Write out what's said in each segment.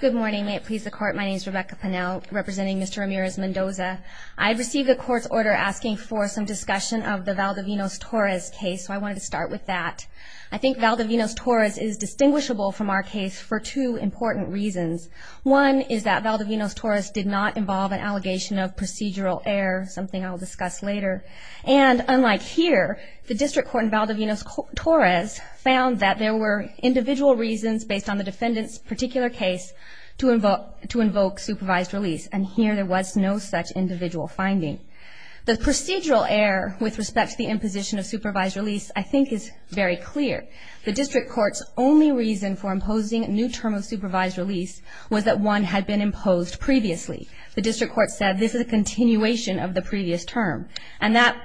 Good morning. May it please the Court, my name is Rebecca Pannell, representing Mr. Ramirez-Mendoza. I've received the Court's order asking for some discussion of the Valdivinos-Torres case, so I wanted to start with that. I think Valdivinos-Torres is distinguishable from our case for two important reasons. One is that Valdivinos-Torres did not involve an allegation of procedural error, something I'll discuss later. And unlike here, the District Court in Valdivinos-Torres found that there were individual reasons based on the defendant's particular case to invoke supervised release, and here there was no such individual finding. The procedural error with respect to the imposition of supervised release I think is very clear. The District Court's only reason for imposing a new term of supervised release was that one had been imposed previously. The District Court said this is a continuation of the previous term, and that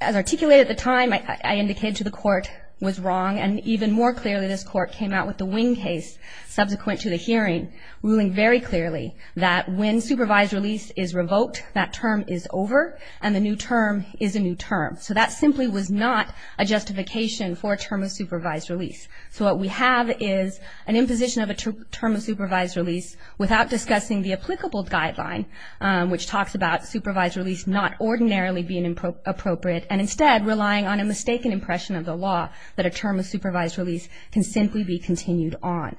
as articulated at the time, I indicated to the Court, was wrong, and even more clearly this Court came out with the Wing case, subsequent to the hearing, ruling very clearly that when supervised release is revoked, that term is over, and the new term is a new term. So that simply was not a justification for a term of supervised release. So what we have is an imposition of a term of supervised release without discussing the applicable guideline, which talks about supervised release not ordinarily being appropriate, and instead relying on a mistaken impression of the law that a term of supervised release can simply be continued on.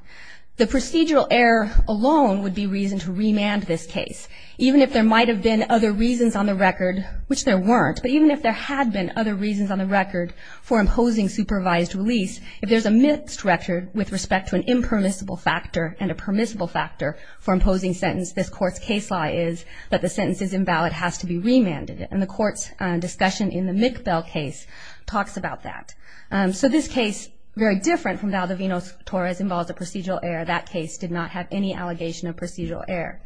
The procedural error alone would be reason to remand this case. Even if there might have been other reasons on the record, which there weren't, but even if there had been other reasons on the record for imposing supervised release, if there's a misdirection with respect to an impermissible factor and a permissible factor for imposing sentence, this Court's case law is that the sentence is invalid, has to be remanded, and the Court's discussion in the district. So this case, very different from Valdivinos-Torres, involves a procedural error. That case did not have any allegation of procedural error.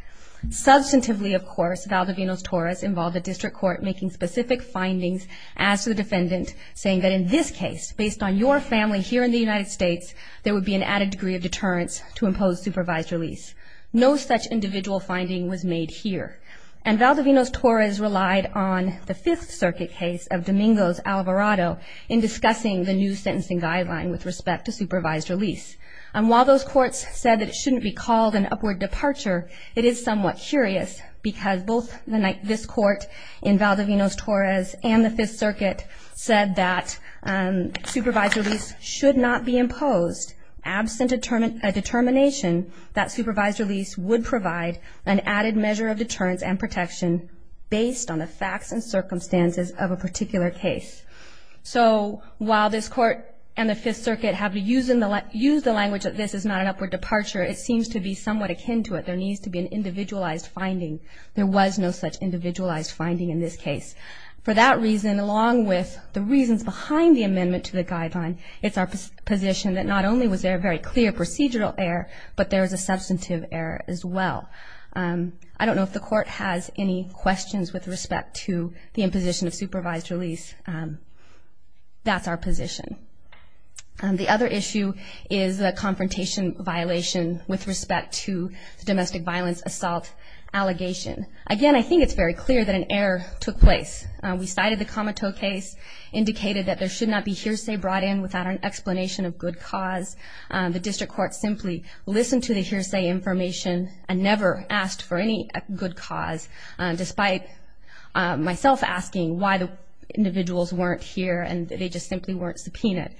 Substantively, of course, Valdivinos-Torres involved the district court making specific findings as to the defendant, saying that in this case, based on your family here in the United States, there would be an added degree of deterrence to impose supervised release. No such individual finding was made here. And Valdivinos-Torres relied on the Fifth Circuit case of Domingos-Alvarado in discussing the new sentencing guideline with respect to supervised release. And while those courts said that it shouldn't be called an upward departure, it is somewhat curious, because both this court in Valdivinos-Torres and the Fifth Circuit said that supervised release should not be imposed absent a determination that supervised release would provide an added measure of deterrence and protection based on the facts and circumstances of a particular case. So while this court and the Fifth Circuit have used the language that this is not an upward departure, it seems to be somewhat akin to it. There needs to be an individualized finding. There was no such individualized finding in this case. For that reason, along with the reasons behind the amendment to the guideline, it's our position that not only was there a very clear procedural error, but there was a substantive error as well. I don't know if the Court has any questions with respect to the imposition of supervised release. That's our position. The other issue is the confrontation violation with respect to the domestic violence assault allegation. Again, I think it's very clear that an error took place. We cited the Comiteau case, indicated that there should not be hearsay brought in without an explanation of good cause. The District Court simply listened to the hearsay information and never asked for any good cause, despite myself asking why the individuals weren't here and they just simply weren't subpoenaed.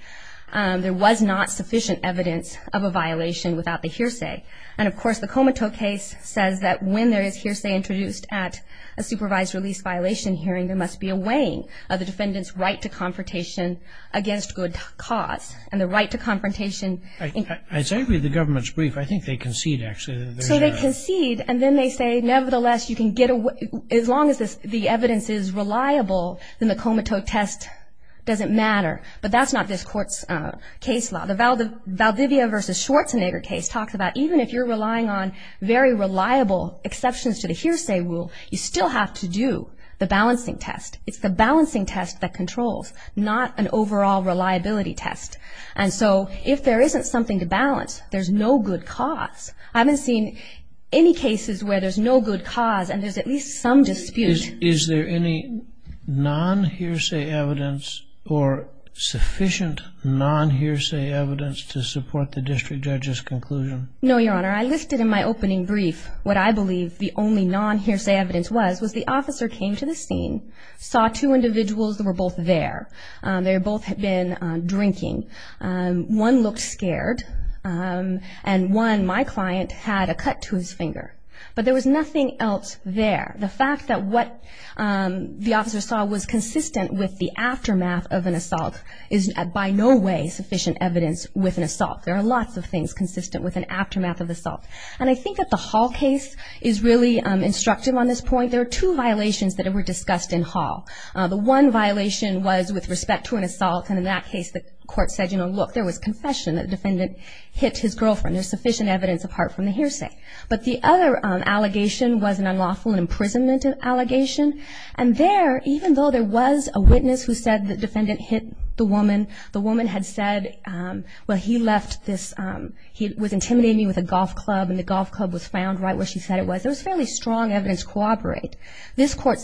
There was not sufficient evidence of a violation without the hearsay. And, of course, the Comiteau case says that when there is hearsay introduced at a supervised release violation hearing, there must be a weighing of the defendant's right to confrontation against good cause and the right to confrontation. I agree with the government's brief. I think they concede, actually. So they concede and then they say, nevertheless, you can get away as long as the evidence is reliable, then the Comiteau test doesn't matter. But that's not this Court's case law. The Valdivia v. Schwarzenegger case talks about even if you're relying on very reliable exceptions to the hearsay rule, you still have to do the balancing test. It's the balancing test that controls, not an overall reliability test. And so if there isn't something to balance, there's no good cause. I haven't seen any cases where there's no good cause and there's at least some dispute. Is there any non-hearsay evidence or sufficient non-hearsay evidence to support the District Judge's conclusion? No, Your Honor. I listed in my opening brief what I believe the only non-hearsay evidence was, was the officer came to the scene, saw two men drinking. One looked scared. And one, my client, had a cut to his finger. But there was nothing else there. The fact that what the officer saw was consistent with the aftermath of an assault is by no way sufficient evidence with an assault. There are lots of things consistent with an aftermath of an assault. And I think that the Hall case is really instructive on this point. There are two violations that were discussed in that case. The court said, you know, look, there was confession that the defendant hit his girlfriend. There's sufficient evidence apart from the hearsay. But the other allegation was an unlawful imprisonment allegation. And there, even though there was a witness who said the defendant hit the woman, the woman had said, well, he left this, he was intimidating me with a golf club. And the golf club was found right where she said it was. There was fairly strong evidence to cooperate. This was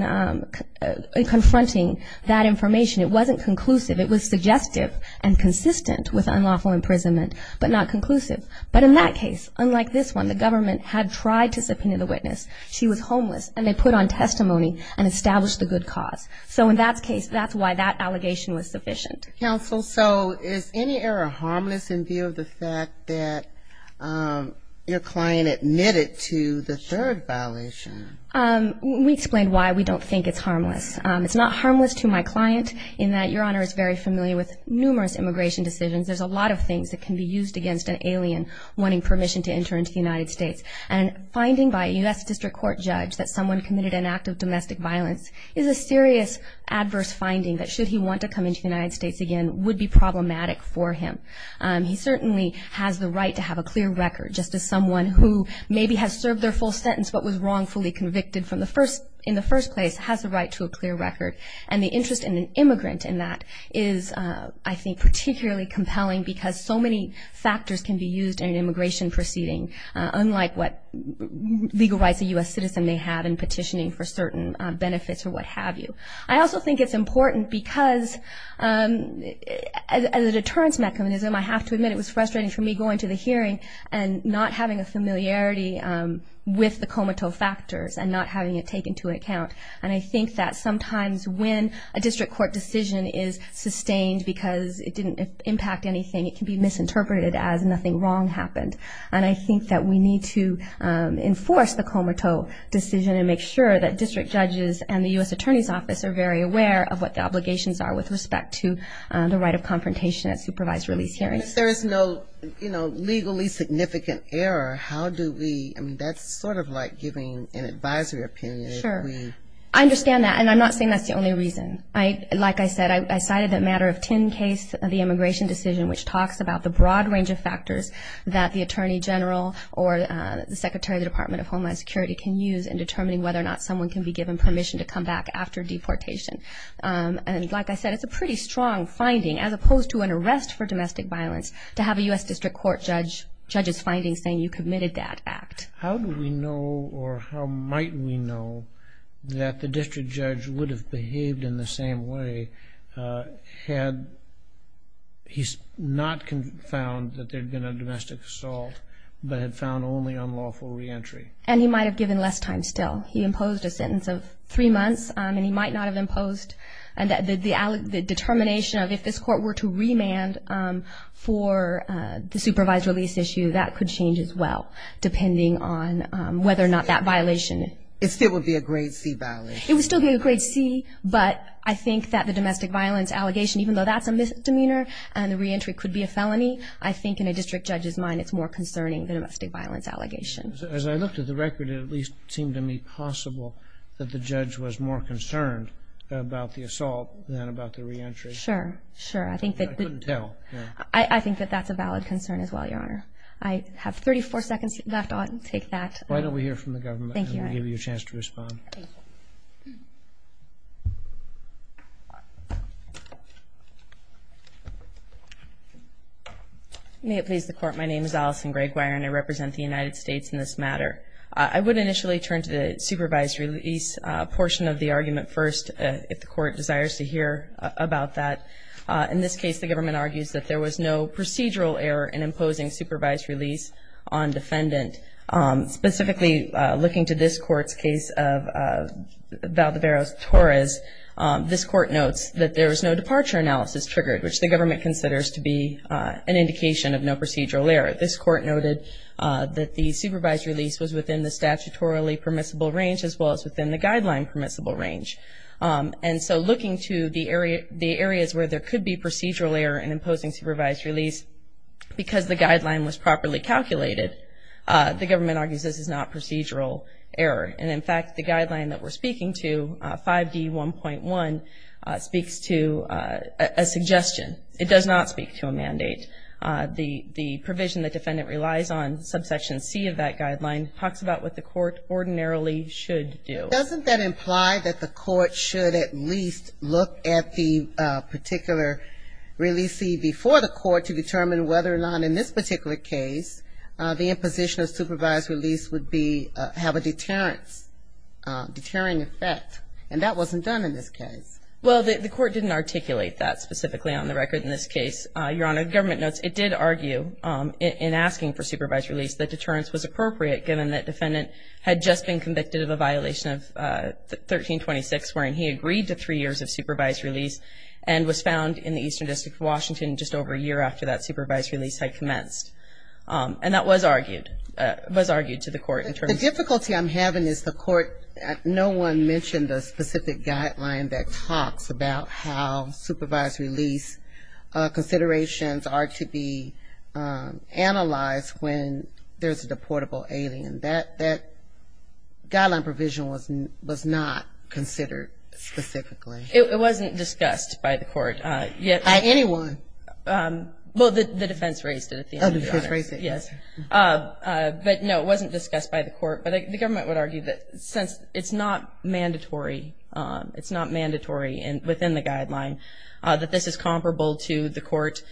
not confronting that information. It wasn't conclusive. It was suggestive and consistent with unlawful imprisonment, but not conclusive. But in that case, unlike this one, the government had tried to subpoena the witness. She was homeless. And they put on testimony and established the good cause. So in that case, that's why that allegation was sufficient. Counsel, so is any error harmless in view of the fact that your client admitted to the third violation? We explained why we don't think it's harmless. It's not harmless to my client in that your Honor is very familiar with numerous immigration decisions. There's a lot of things that can be used against an alien wanting permission to enter into the United States. And finding by a U.S. District Court judge that someone committed an act of domestic violence is a serious adverse finding that should he want to come into the United States again would be problematic for him. He certainly has the right to have a clear record just as someone who maybe has served their full sentence but was not actually convicted in the first place has the right to a clear record. And the interest in an immigrant in that is, I think, particularly compelling because so many factors can be used in an immigration proceeding, unlike what legal rights a U.S. citizen may have in petitioning for certain benefits or what have you. I also think it's important because as a deterrence mechanism, I have to admit it was frustrating for me going to the hearing and not having a take into account. And I think that sometimes when a district court decision is sustained because it didn't impact anything, it can be misinterpreted as nothing wrong happened. And I think that we need to enforce the comatose decision and make sure that district judges and the U.S. attorneys office are very aware of what the obligations are with respect to the right of confrontation at supervised release hearings. If there is no, you know, legally significant error, how do we, I mean, that's sort of like giving an advisory opinion. Sure. I understand that. And I'm not saying that's the only reason. Like I said, I cited the matter of tin case of the immigration decision, which talks about the broad range of factors that the attorney general or the secretary of the Department of Homeland Security can use in determining whether or not someone can be given permission to come back after deportation. And like I said, it's a pretty strong finding, as opposed to an arrest for domestic violence, to have a U.S. district court judge's findings saying you committed that act. How do we know, or how might we know, that the district judge would have behaved in the same way had he not found that there had been a domestic assault, but had found only unlawful reentry? And he might have given less time still. He imposed a sentence of three months, and he might not have imposed the determination of if this court were to remand for the supervised release issue, that could change as well, depending on whether or not that violation... It still would be a grade C violation. It would still be a grade C, but I think that the domestic violence allegation, even though that's a misdemeanor and the reentry could be a felony, I think in a district judge's mind it's more concerning than a domestic violence allegation. As I looked at the record, it at least seemed to me possible that the judge was more concerned about the assault than about the reentry. Sure, sure. I think that... I couldn't tell. I think that that's a valid concern as well, Your Honor. I have 34 seconds left. I'll take that. Why don't we hear from the government, and we'll give you a chance to respond. Thank you. May it please the Court. My name is Allison Gregg-Weir, and I represent the United States in this matter. I would initially turn to the supervised release portion of the argument first if the Court desires to hear about that. In this case, the government argues that there was no procedural error in imposing supervised release on defendant. Specifically, looking to this Court's case of Valdeveros-Torres, this Court notes that there was no departure analysis triggered, which the government considers to be an indication of no procedural error. This Court noted that the supervised release was within the statutorily permissible range as well as within the guideline permissible range. And so looking to the areas where there could be procedural error in imposing supervised release, because the guideline was properly calculated, the government argues this is not procedural error. And, in fact, the guideline that we're speaking to, 5D1.1, speaks to a suggestion. It does not speak to a mandate. It talks about what the Court ordinarily should do. Doesn't that imply that the Court should at least look at the particular release before the Court to determine whether or not, in this particular case, the imposition of supervised release would have a deterring effect? And that wasn't done in this case. Well, the Court didn't articulate that specifically on the record in this case, Your Honor. The government notes it did argue, in asking for supervised release, that deterrence was appropriate, given that defendant had just been convicted of a violation of 1326, wherein he agreed to three years of supervised release, and was found in the Eastern District of Washington just over a year after that supervised release had commenced. And that was argued to the Court. The difficulty I'm having is the Court, no one mentioned a specific guideline that talks about how supervised release considerations are to be analyzed when there's a deportable alien. That guideline provision was not considered specifically. It wasn't discussed by the Court. By anyone? Well, the defense raised it at the end. Oh, the defense raised it. Yes. But, no, it wasn't discussed by the Court. But the government would argue that since it's not mandatory, it's not mandatory within the guideline, that this is comparable to the Court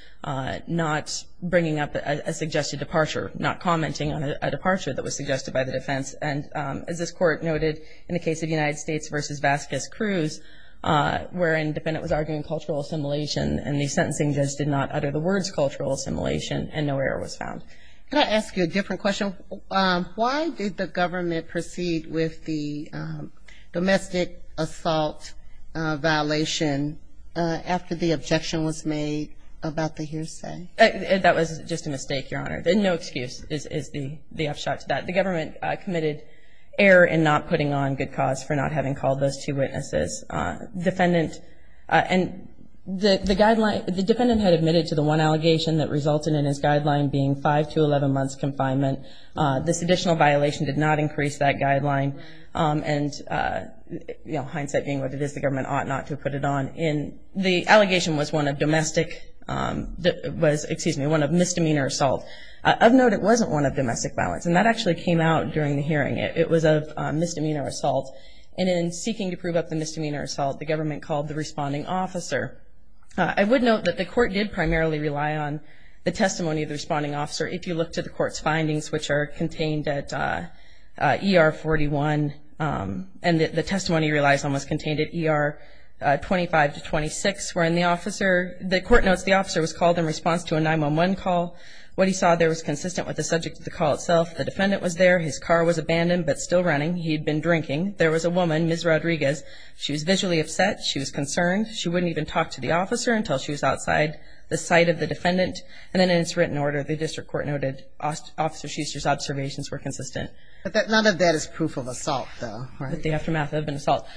not bringing up a suggested departure, not commenting on a departure that was suggested by the defense. And as this Court noted in the case of United States v. Vasquez-Cruz, wherein the defendant was arguing cultural assimilation and the sentencing judge did not utter the words cultural assimilation and no error was found. Can I ask you a different question? Why did the government proceed with the domestic assault violation after the objection was made about the hearsay? That was just a mistake, Your Honor. No excuse is the upshot to that. The government committed error in not putting on good cause for not having called those two witnesses. And the defendant had admitted to the one allegation that resulted in his death. This additional violation did not increase that guideline. And, you know, hindsight being what it is, the government ought not to have put it on. The allegation was one of misdemeanor assault. Of note, it wasn't one of domestic violence. And that actually came out during the hearing. It was of misdemeanor assault. And in seeking to prove up the misdemeanor assault, the government called the responding officer. I would note that the Court did primarily rely on the testimony of the officer contained at ER 41. And the testimony relies on what's contained at ER 25 to 26, wherein the officer, the Court notes, the officer was called in response to a 911 call. What he saw there was consistent with the subject of the call itself. The defendant was there. His car was abandoned but still running. He had been drinking. There was a woman, Ms. Rodriguez. She was visually upset. She was concerned. She wouldn't even talk to the officer until she was outside the site of the defendant. And then in its written order, the district court noted Officer Schuster's observations were consistent. But none of that is proof of assault, though, right? The aftermath of an assault.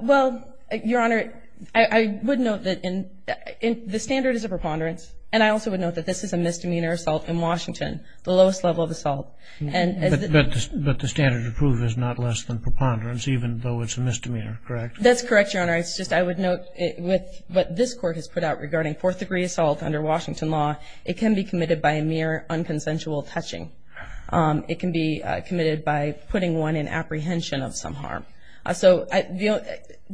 Well, Your Honor, I would note that the standard is a preponderance. And I also would note that this is a misdemeanor assault in Washington, the lowest level of assault. But the standard to prove is not less than preponderance, even though it's a misdemeanor, correct? That's correct, Your Honor. It's just I would note with what this Court has put out regarding fourth-degree assault under Washington law, it can be committed by a mere unconsensual touching. It can be committed by putting one in apprehension of some harm. So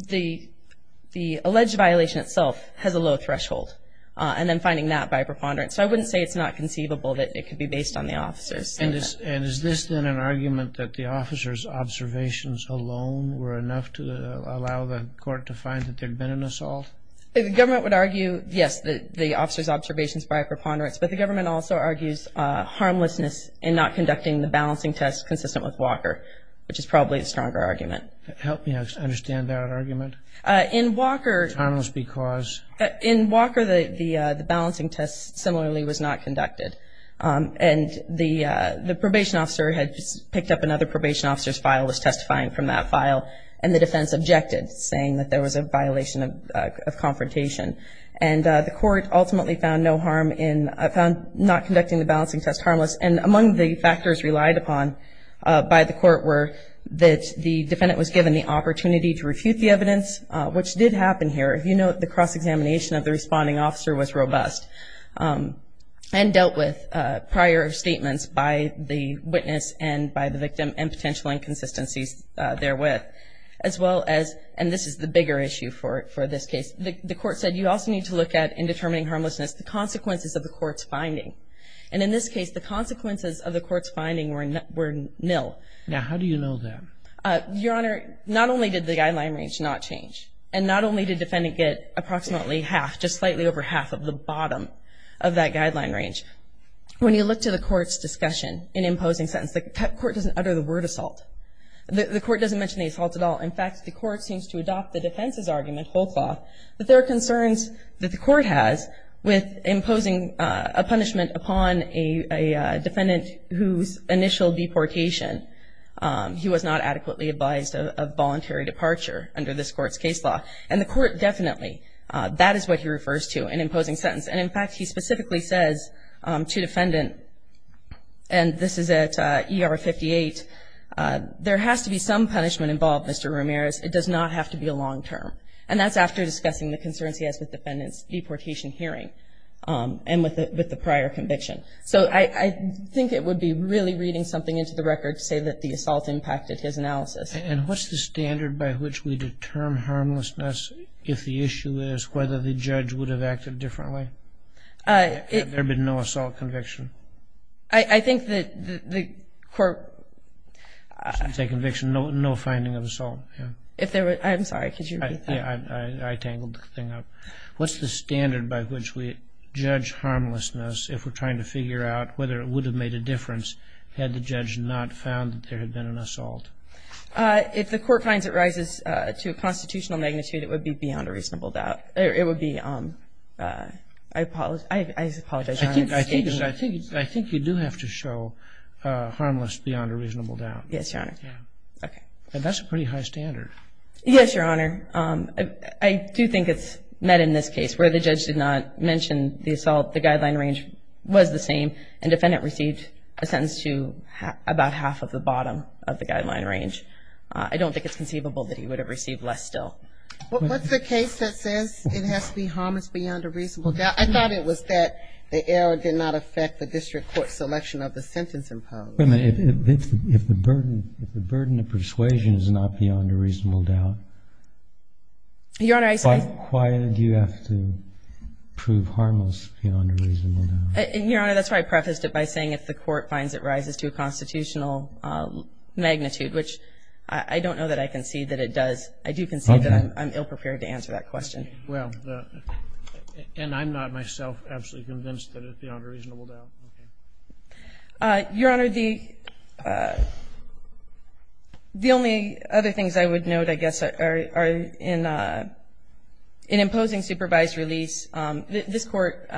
the alleged violation itself has a low threshold. And then finding that by preponderance. So I wouldn't say it's not conceivable that it could be based on the officer's statement. And is this then an argument that the officer's observations alone were enough to allow the court to find that there had been an assault? The government would argue, yes, the officer's observations by a preponderance. But the government also argues harmlessness in not conducting the balancing test consistent with Walker, which is probably a stronger argument. Help me understand that argument. In Walker. Harmless because. In Walker, the balancing test similarly was not conducted. And the probation officer had picked up another probation officer's file, was testifying from that file, and the defense objected, saying that there was a violation of confrontation. And the court ultimately found no harm in, found not conducting the balancing test harmless. And among the factors relied upon by the court were that the defendant was given the opportunity to refute the evidence, which did happen here. If you note the cross-examination of the responding officer was robust. And dealt with prior statements by the witness and by the victim and potential inconsistencies therewith. As well as, and this is the bigger issue for this case, the court said you also need to look at in determining harmlessness, the consequences of the court's finding. And in this case, the consequences of the court's finding were nil. Now, how do you know that? Your Honor, not only did the guideline range not change, and not only did the defendant get approximately half, just slightly over half of the bottom of that guideline range. When you look to the court's discussion in imposing sentence, the court doesn't utter the word assault. The court doesn't mention the assault at all. In fact, the court seems to adopt the defense's argument, whole cloth. But there are concerns that the court has with imposing a punishment upon a defendant whose initial deportation, he was not adequately advised of voluntary departure under this court's case law. And the court definitely, that is what he refers to in imposing sentence. And in fact, he specifically says to defendant, and this is at ER 58, there has to be some punishment involved, Mr. Ramirez. It does not have to be a long term. And that's after discussing the concerns he has with defendant's deportation hearing and with the prior conviction. So I think it would be really reading something into the record to say that the assault impacted his analysis. And what's the standard by which we determine harmlessness if the issue is whether the judge would have acted differently? Had there been no assault conviction? I think that the court. You say conviction, no finding of assault. I'm sorry, could you repeat that? I tangled the thing up. What's the standard by which we judge harmlessness if we're trying to figure out whether it would have made a difference had the judge not found that there had been an assault? If the court finds it rises to a constitutional magnitude, it would be beyond a reasonable doubt. It would be, I apologize. I think you do have to show harmless beyond a reasonable doubt. Yes, Your Honor. Okay. And that's a pretty high standard. Yes, Your Honor. I do think it's met in this case where the judge did not mention the assault. The guideline range was the same. And defendant received a sentence to about half of the bottom of the guideline range. I don't think it's conceivable that he would have received less still. What's the case that says it has to be harmless beyond a reasonable doubt? I thought it was that the error did not affect the district court selection of the sentence in part. If the burden of persuasion is not beyond a reasonable doubt, why do you have to prove harmless beyond a reasonable doubt? Your Honor, that's why I prefaced it by saying if the court finds it rises to a constitutional magnitude, which I don't know that I concede that it does. I do concede that I'm ill-prepared to answer that question. Well, and I'm not myself absolutely convinced that it's beyond a reasonable doubt. Okay. Your Honor, the only other things I would note, I guess, are in imposing supervised release. This Court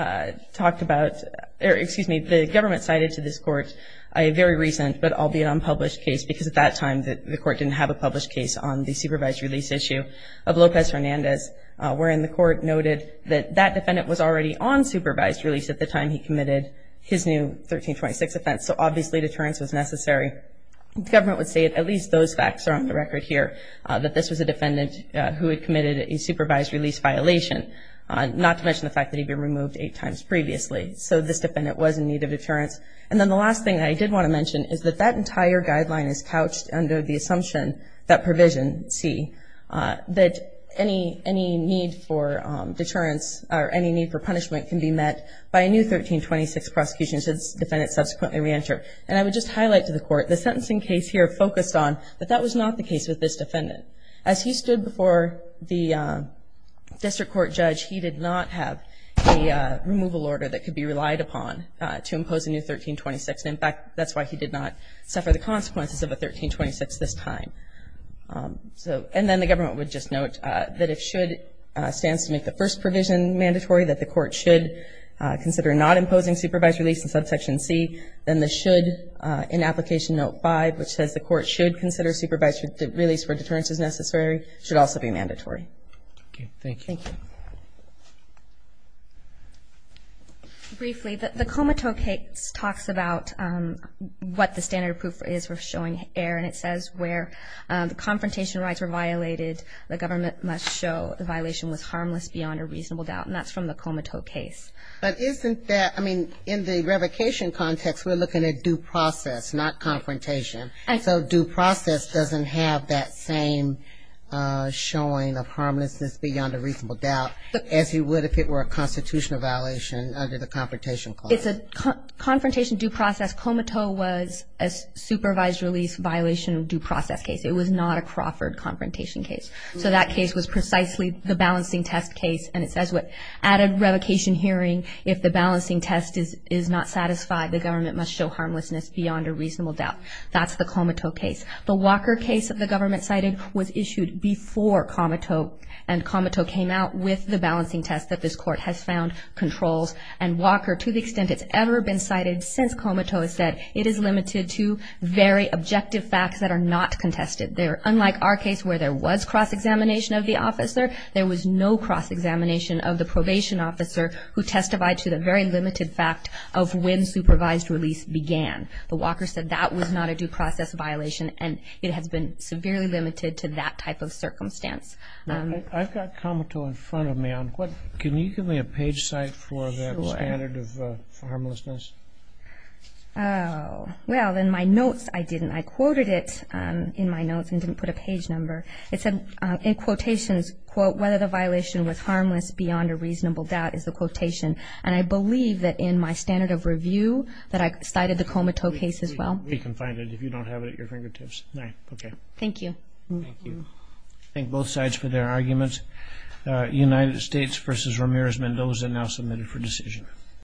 talked about or, excuse me, the government cited to this Court a very recent, but albeit unpublished case, because at that time the Court didn't have a published case on the supervised release issue of Lopez Hernandez, wherein the Court noted that that defendant was already on supervised release at the time he committed his new 1326 offense. So, obviously, deterrence was necessary. The government would say at least those facts are on the record here, that this was a defendant who had committed a supervised release violation, not to mention the fact that he'd been removed eight times previously. So this defendant was in need of deterrence. And then the last thing I did want to mention is that that entire guideline is couched under the assumption that provision C, that any need for deterrence or any need for punishment can be met by a new 1326 prosecution should the defendant subsequently reenter. And I would just highlight to the Court, the sentencing case here focused on, but that was not the case with this defendant. As he stood before the district court judge, he did not have a removal order that could be relied upon to impose a new 1326. In fact, that's why he did not suffer the consequences of a 1326 this time. And then the government would just note that if SHOULD stands to make the first provision mandatory, that the Court should consider not imposing supervised release instead of Section C, then the SHOULD in Application Note 5, which says the Court should consider supervised release where deterrence is necessary, should also be mandatory. Thank you. Thank you. Briefly, the Comiteau case talks about what the standard proof is for showing error, and it says where the confrontation rights were violated, the government must show the violation was harmless beyond a reasonable doubt. And that's from the Comiteau case. But isn't that, I mean, in the revocation context, we're looking at due process, not confrontation. So due process doesn't have that same showing of harmlessness beyond a reasonable doubt, as you would if it were a constitutional violation under the Confrontation Clause. It's a confrontation due process. Comiteau was a supervised release violation due process case. It was not a Crawford confrontation case. So that case was precisely the balancing test case, and it says what? At a revocation hearing, if the balancing test is not satisfied, the government must show harmlessness beyond a reasonable doubt. That's the Comiteau case. The Walker case that the government cited was issued before Comiteau, and Comiteau came out with the balancing test that this court has found controls. And Walker, to the extent it's ever been cited since Comiteau has said, it is limited to very objective facts that are not contested. Unlike our case where there was cross-examination of the officer, there was no cross-examination of the probation officer who testified to the very limited fact of when supervised release began. The Walker said that was not a due process violation, and it has been severely limited to that type of circumstance. I've got Comiteau in front of me. Can you give me a page cite for that standard of harmlessness? Well, in my notes I didn't. I quoted it in my notes and didn't put a page number. It said in quotations, quote, whether the violation was harmless beyond a reasonable doubt is the quotation. And I believe that in my standard of review that I cited the Comiteau case as well. We can find it if you don't have it at your fingertips. Thank you. Thank you. Thank both sides for their arguments. United States v. Ramirez-Mendoza now submitted for decision.